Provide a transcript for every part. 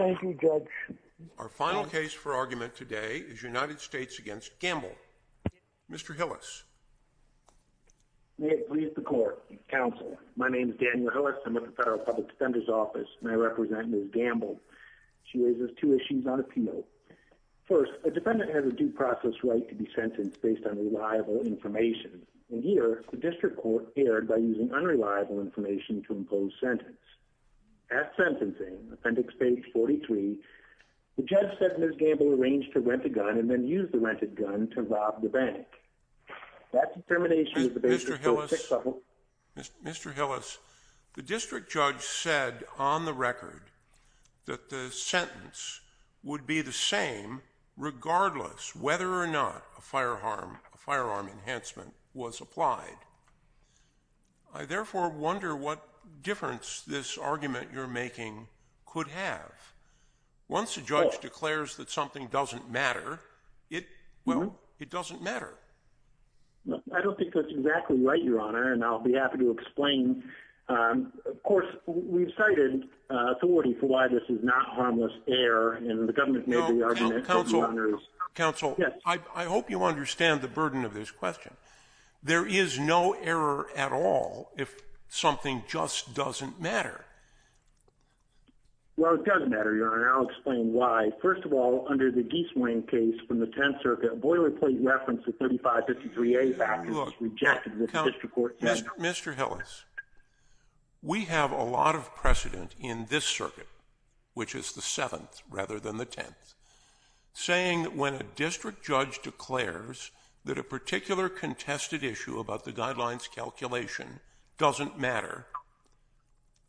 Our final case for argument today is United States v. Gamble. Mr. Hillis. May it please the Court, Counsel. My name is Daniel Hillis. I'm with the Federal Public Defender's Office, and I represent Ms. Gamble. She raises two issues on appeal. First, a defendant has a due process right to be sentenced based on reliable information. In here, the district court appeared by using unreliable information to impose sentence. At sentencing, appendix page 43, the judge said Ms. Gamble arranged to rent a gun and then use the rented gun to rob the bank. Mr. Hillis, the district judge said on the record that the sentence would be the same regardless whether or not a firearm enhancement was applied. I therefore wonder what difference this argument you're making could have. Once a judge declares that something doesn't matter, it, well, it doesn't matter. I don't think that's exactly right, Your Honor, and I'll be happy to explain. Of course, we've cited authority for why this is not harmless error, and the government may be arguing that it is. Counsel, I hope you understand the burden of this question. There is no error at all if something just doesn't matter. Well, it doesn't matter, Your Honor, and I'll explain why. First of all, under the Giesemann case from the Tenth Circuit, a boilerplate reference to 3553A values was rejected in the district court. Mr. Hillis, we have a lot of precedent in this circuit, which is the Seventh rather than the Tenth, saying that when a district judge declares that a particular contested issue about the guidelines calculation doesn't matter,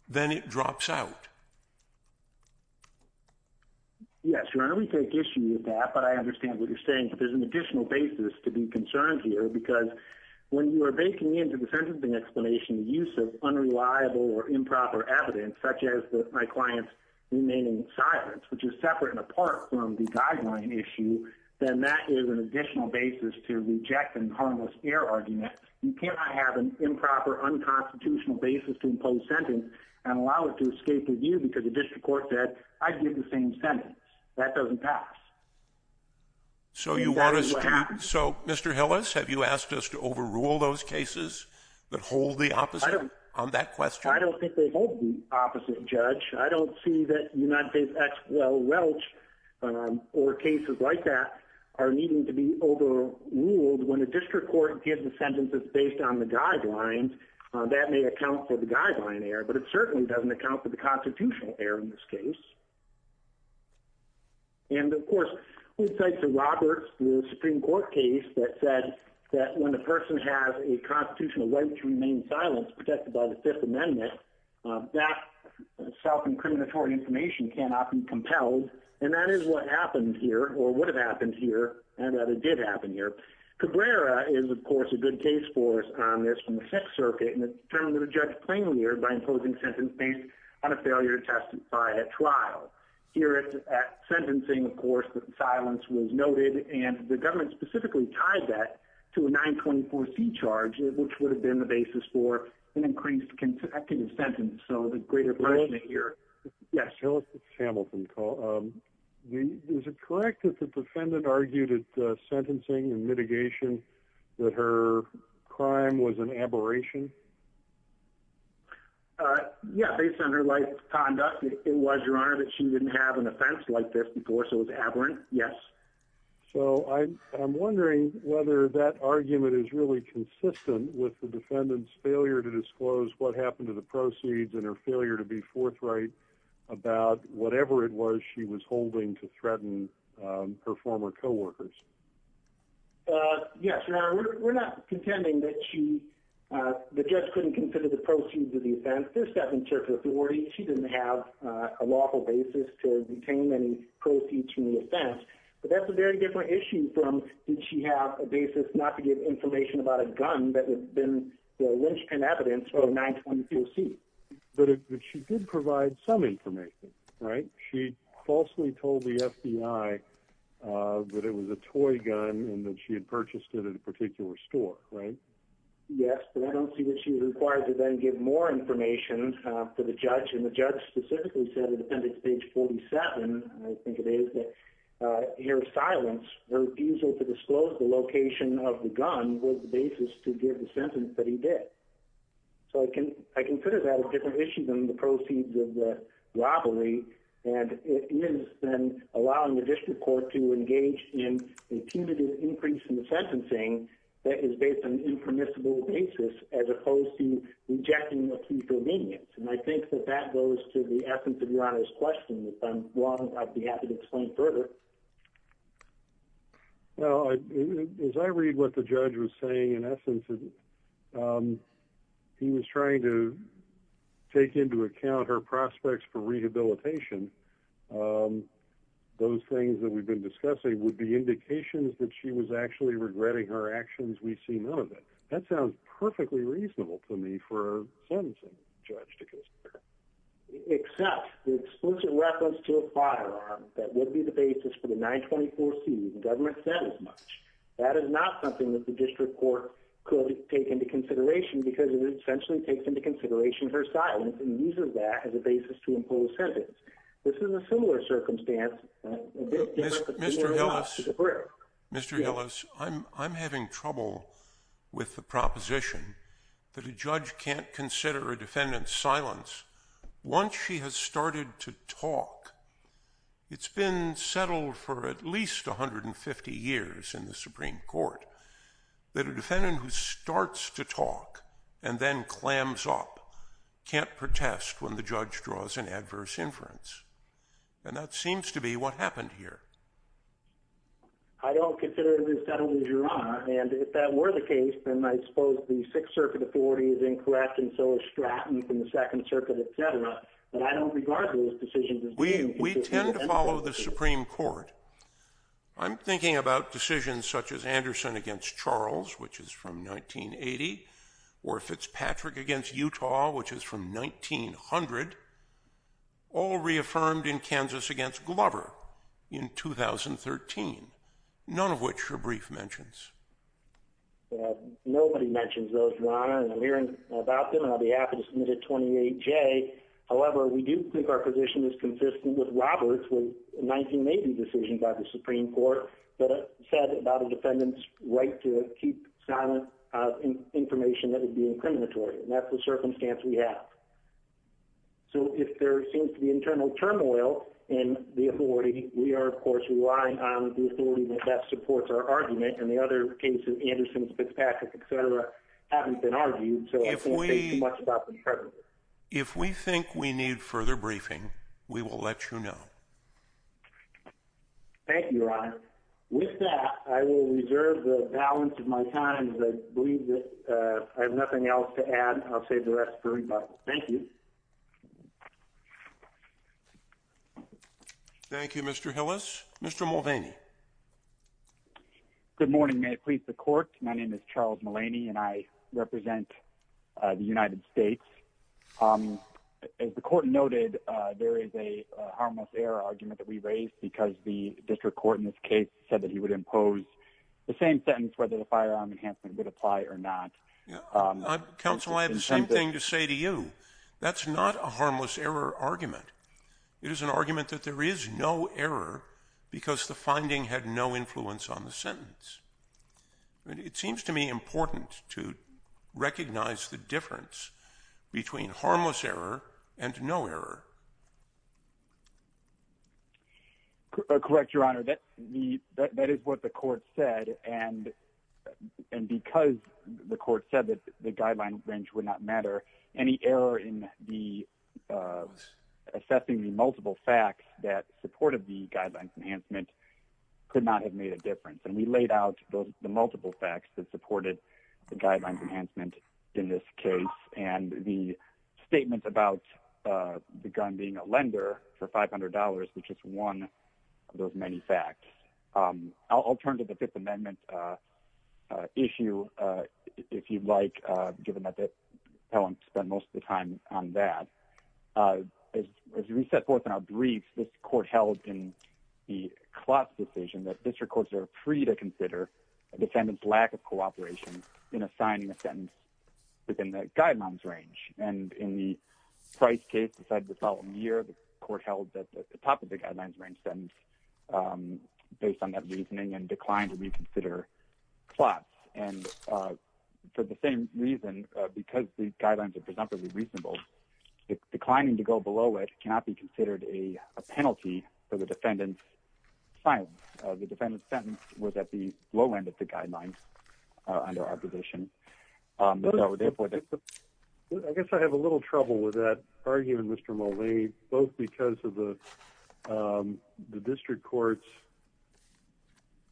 then it drops out. Yes, Your Honor, we take issue with that, but I understand what you're saying, but there's an additional basis to be concerned here, because when you are baking into the sentencing explanation the use of unreliable or improper evidence, such as my client's remaining silence, which is separate and apart from the guideline issue, then that is an additional basis to reject an harmless error argument. You cannot have an improper, unconstitutional basis to impose sentence and allow it to escape review because the district court said, I'd give the same sentence. That doesn't pass. So, Mr. Hillis, have you asked us to overrule those cases that hold the opposite on that question? I don't think they hold the opposite, Judge. I don't see that United States ex quo, Welch, or cases like that are needing to be overruled. When a district court gives the sentences based on the guidelines, that may account for the guideline error, but it certainly doesn't account for the constitutional error in this case. And, of course, we cite the Roberts Supreme Court case that said that when a person has a constitutional right to remain silent, protected by the Fifth Amendment, that self-incriminatory information cannot be compelled, and that is what happened here, or would have happened here, and that it did happen here. Cabrera is, of course, a good case for us on this from the Sixth Circuit, and it determined that a judge plainly erred by imposing sentence based on a failure to testify at trial. Here, at sentencing, of course, silence was noted, and the government specifically tied that to a 924C charge, which would have been the basis for an increased effective sentence. So the greater question here— Yes. Hamilton. Is it correct that the defendant argued at sentencing and mitigation that her crime was an aberration? Yes. Based on her life's conduct, it was, Your Honor, that she didn't have an offense like this before, so it was aberrant, yes. So I'm wondering whether that argument is really consistent with the defendant's failure to disclose what happened to the proceeds and her failure to be forthright about whatever it was she was holding to threaten her former co-workers. Yes, Your Honor. We're not contending that she—the judge couldn't consider the proceeds of the offense. She didn't have a lawful basis to retain any proceeds from the offense, but that's a very different issue from did she have a basis not to give information about a gun that had been the linchpin evidence for a 924C. But she did provide some information, right? She falsely told the FBI that it was a toy gun and that she had purchased it at a particular store, right? Yes, but I don't see that she was required to then give more information to the judge, and the judge specifically said at appendix page 47, I think it is, that her silence, her refusal to disclose the location of the gun was the basis to give the sentence that he did. So I consider that a different issue than the proceeds of the robbery, and it is then allowing the district court to engage in a punitive increase in the sentencing that is based on an impermissible basis as opposed to rejecting the plea for obedience. And I think that that goes to the essence of Your Honor's question, which I'm—I'd be happy to explain further. Well, as I read what the judge was saying, in essence, he was trying to take into account her prospects for rehabilitation. Those things that we've been discussing would be indications that she was actually regretting her actions. We see none of it. That sounds perfectly reasonable to me for a sentencing judge to consider. Except the explicit reference to a firearm, that would be the basis for the 924C. The government said as much. That is not something that the district court could take into consideration because it essentially takes into consideration her silence and uses that as a basis to impose a sentence. This is a similar circumstance— Mr. Hillis, Mr. Hillis, I'm having trouble with the proposition that a judge can't consider a defendant's silence once she has started to talk. It's been settled for at least 150 years in the Supreme Court that a defendant who starts to talk and then clams up can't protest when the judge draws an adverse inference. And that seems to be what happened here. I don't consider it a misdemeanor, Your Honor. And if that were the case, then I suppose the Sixth Circuit authority is incorrect and so is Stratton from the Second Circuit, et cetera. But I don't regard those decisions as— We tend to follow the Supreme Court. I'm thinking about decisions such as Anderson against Charles, which is from 1980, or Fitzpatrick against Utah, which is from 1900, or reaffirmed in Kansas against Glover in 2013, none of which are brief mentions. Nobody mentions those, Your Honor, and I'm hearing about them and I'll be happy to submit a 28J. However, we do think our position is consistent with Roberts' 1980 decision by the Supreme Court that said about a defendant's right to keep silent information that would be incriminatory, and that's the circumstance we have. So if there seems to be internal turmoil in the authority, we are, of course, relying on the authority that best supports our argument, and the other cases—Anderson, Fitzpatrick, et cetera—haven't been argued, so I don't think too much about the prejudice. If we think we need further briefing, we will let you know. Thank you, Your Honor. With that, I will reserve the balance of my time because I believe that I have nothing else to add. I'll save the rest for rebuttal. Thank you. Thank you, Mr. Hillis. Mr. Mulvaney. Good morning. May it please the Court? My name is Charles Mulvaney and I represent the United States. As the Court noted, there is a harmless error argument that we raised because the district court in this case said that he would impose the same sentence whether the firearm enhancement would apply or not. Counsel, I have the same thing to say to you. That's not a harmless error argument. It is an argument that there is no error because the finding had no influence on the sentence. It seems to me important to recognize the difference between harmless error and no error. Correct, Your Honor. That is what the Court said, and because the Court said that the guideline range would not matter, any error in assessing the multiple facts that supported the guidelines enhancement could not have made a difference. We laid out the multiple facts that supported the guidelines enhancement in this case and the statement about the gun being a lender for $500, which is one of those many facts. I'll turn to the Fifth Amendment issue, if you'd like, given that the appellant spent most of the time on that. As we set forth in our briefs, this Court held in the Klotz decision that district courts are free to consider a defendant's lack of cooperation in assigning a sentence within the guidelines range. And in the Price case decided the following year, the Court held that the top of the guidelines range sentence based on that reasoning and declined to reconsider Klotz. And for the same reason, because these guidelines are presumptively reasonable, declining to go below it cannot be considered a penalty for the defendant's silence. The defendant's sentence was at the low end of the guidelines under our position. I guess I have a little trouble with that argument, Mr. Mulvey, both because of the district court's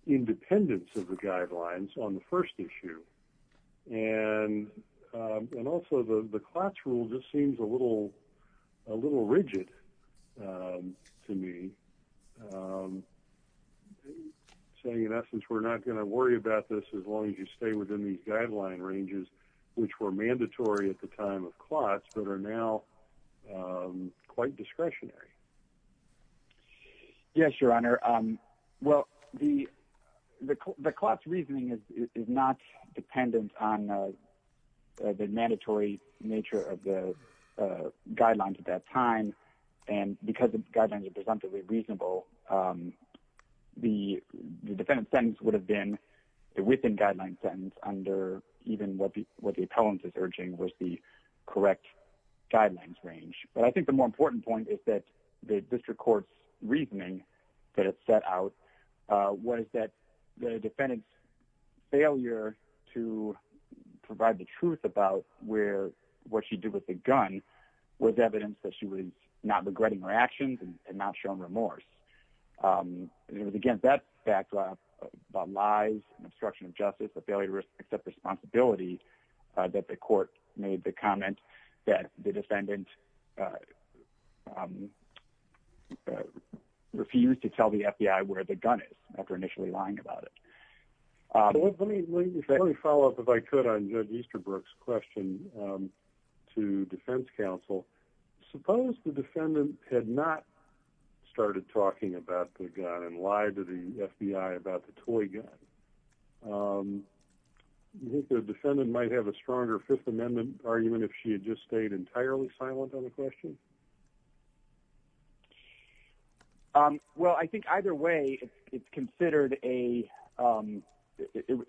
independence of the guidelines on the first issue and also the Klotz rule just seems a little rigid to me, saying in essence we're not going to worry about this as long as you stay within these guideline ranges, which were mandatory at the time of Klotz but are now quite discretionary. Yes, Your Honor. Well, the Klotz reasoning is not dependent on the mandatory nature of the guidelines at that time, and because the guidelines are presumptively reasonable, the defendant's sentence would have been the within guideline sentence under even what the appellant is urging was the correct guidelines range. But I think the more important point is that the district court's reasoning that it set out was that the defendant's failure to provide the truth about what she did with the gun was evidence that she was not regretting her actions and not showing remorse. It was against that backdrop of lies and obstruction of justice, a failure to accept responsibility that the court made the comment that the defendant refused to tell the FBI where the gun is after initially lying about it. Let me follow up, if I could, on Judge Easterbrook's question to defense counsel. Suppose the defendant had not started talking about the gun and lied to the FBI about the toy gun. Do you think the defendant might have a stronger Fifth Amendment argument if she had just stayed entirely silent on the question? Well, I think either way, it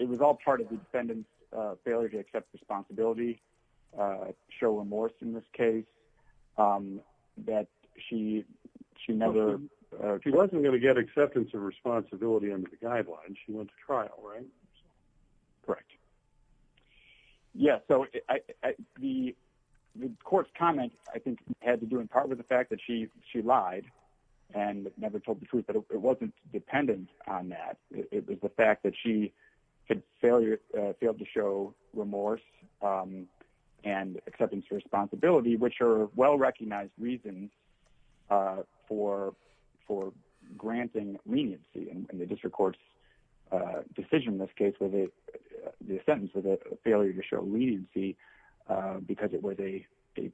was all part of the defendant's failure to accept responsibility, show remorse in this case. She wasn't going to get acceptance of responsibility under the guidelines. She went to trial, right? Correct. Yeah, so the court's comment, I think, had to do in part with the fact that she lied and never told the truth, but it wasn't dependent on that. It was the fact that she had failed to show remorse and acceptance of responsibility, which are well-recognized reasons for granting leniency. In the district court's decision in this case, the sentence was a failure to show leniency because it was a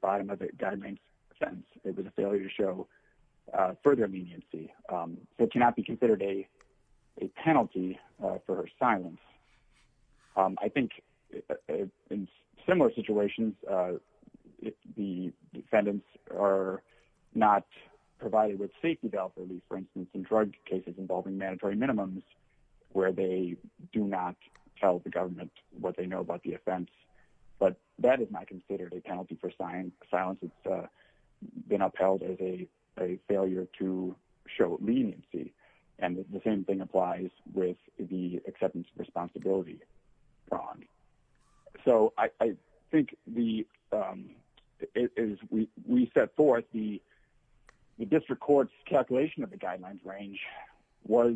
bottom-of-the-guidelines sentence. It was a failure to show further leniency. It cannot be considered a penalty for her silence. I think in similar situations, the defendants are not provided with safety belt relief. For instance, in drug cases involving mandatory minimums, where they do not tell the government what they know about the offense. But that is not considered a penalty for silence. It's been upheld as a failure to show leniency. And the same thing applies with the acceptance of responsibility. So I think as we set forth, the district court's calculation of the guidelines range was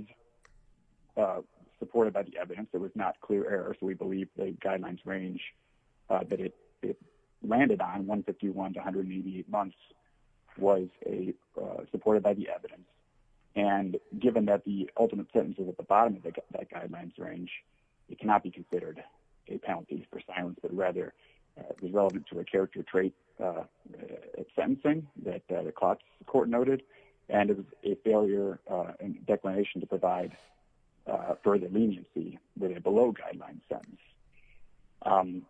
supported by the evidence. It was not clear error, so we believe the guidelines range that it landed on, 151 to 188 months, was supported by the evidence. And given that the ultimate sentence is at the bottom of that guidelines range, it cannot be considered a penalty for silence, but rather is relevant to a character trait of sentencing that the court noted. And it was a failure in declination to provide further leniency with a below-guidelines sentence.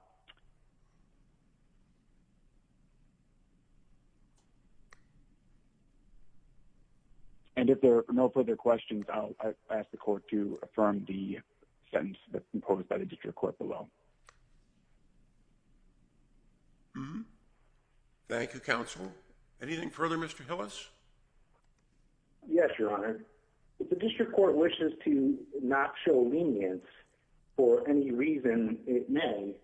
And if there are no further questions, I'll ask the court to affirm the sentence that's imposed by the district court below. Thank you, counsel. Anything further, Mr. Hillis? Yes, Your Honor. If the district court wishes to not show lenience for any reason it may,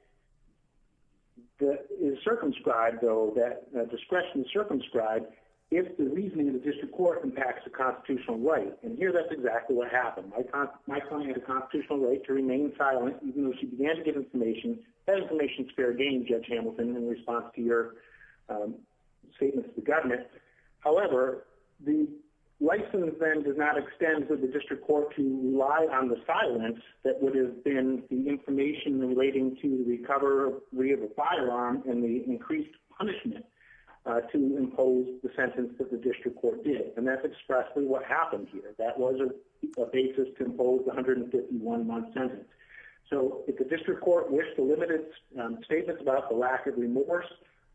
it is circumscribed, though, that discretion is circumscribed if the reasoning of the district court impacts the constitutional right. And here that's exactly what happened. My client had a constitutional right to remain silent even though she began to give information. That information is fair game, Judge Hamilton, in response to your statement to the government. However, the license then does not extend for the district court to rely on the silence that would have been the information relating to the recovery of a firearm and the increased punishment to impose the sentence that the district court did. And that's expressly what happened here. That was a basis to impose the 151-month sentence. So if the district court wished to limit its statements about the lack of remorse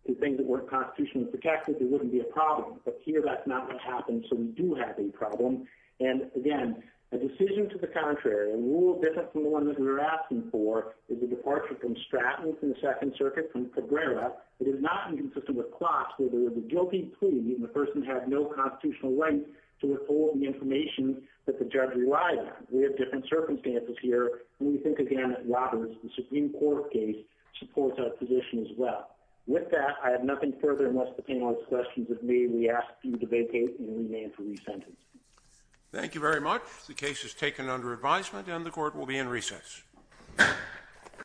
to things that weren't constitutionally protected, there wouldn't be a problem. But here that's not what happened, so we do have a problem. And, again, a decision to the contrary, a rule different from the one that we were asking for, is the departure from Stratton from the Second Circuit from Cabrera. It is not inconsistent with Klotz where there was a guilty plea and the person had no constitutional right to withhold the information that the judge relied on. We have different circumstances here. And we think, again, that Roberts, the Supreme Court case, supports our position as well. With that, I have nothing further unless the panel has questions of me. We ask you to vacate and rename for re-sentence. Thank you very much. The case is taken under advisement and the court will be in recess.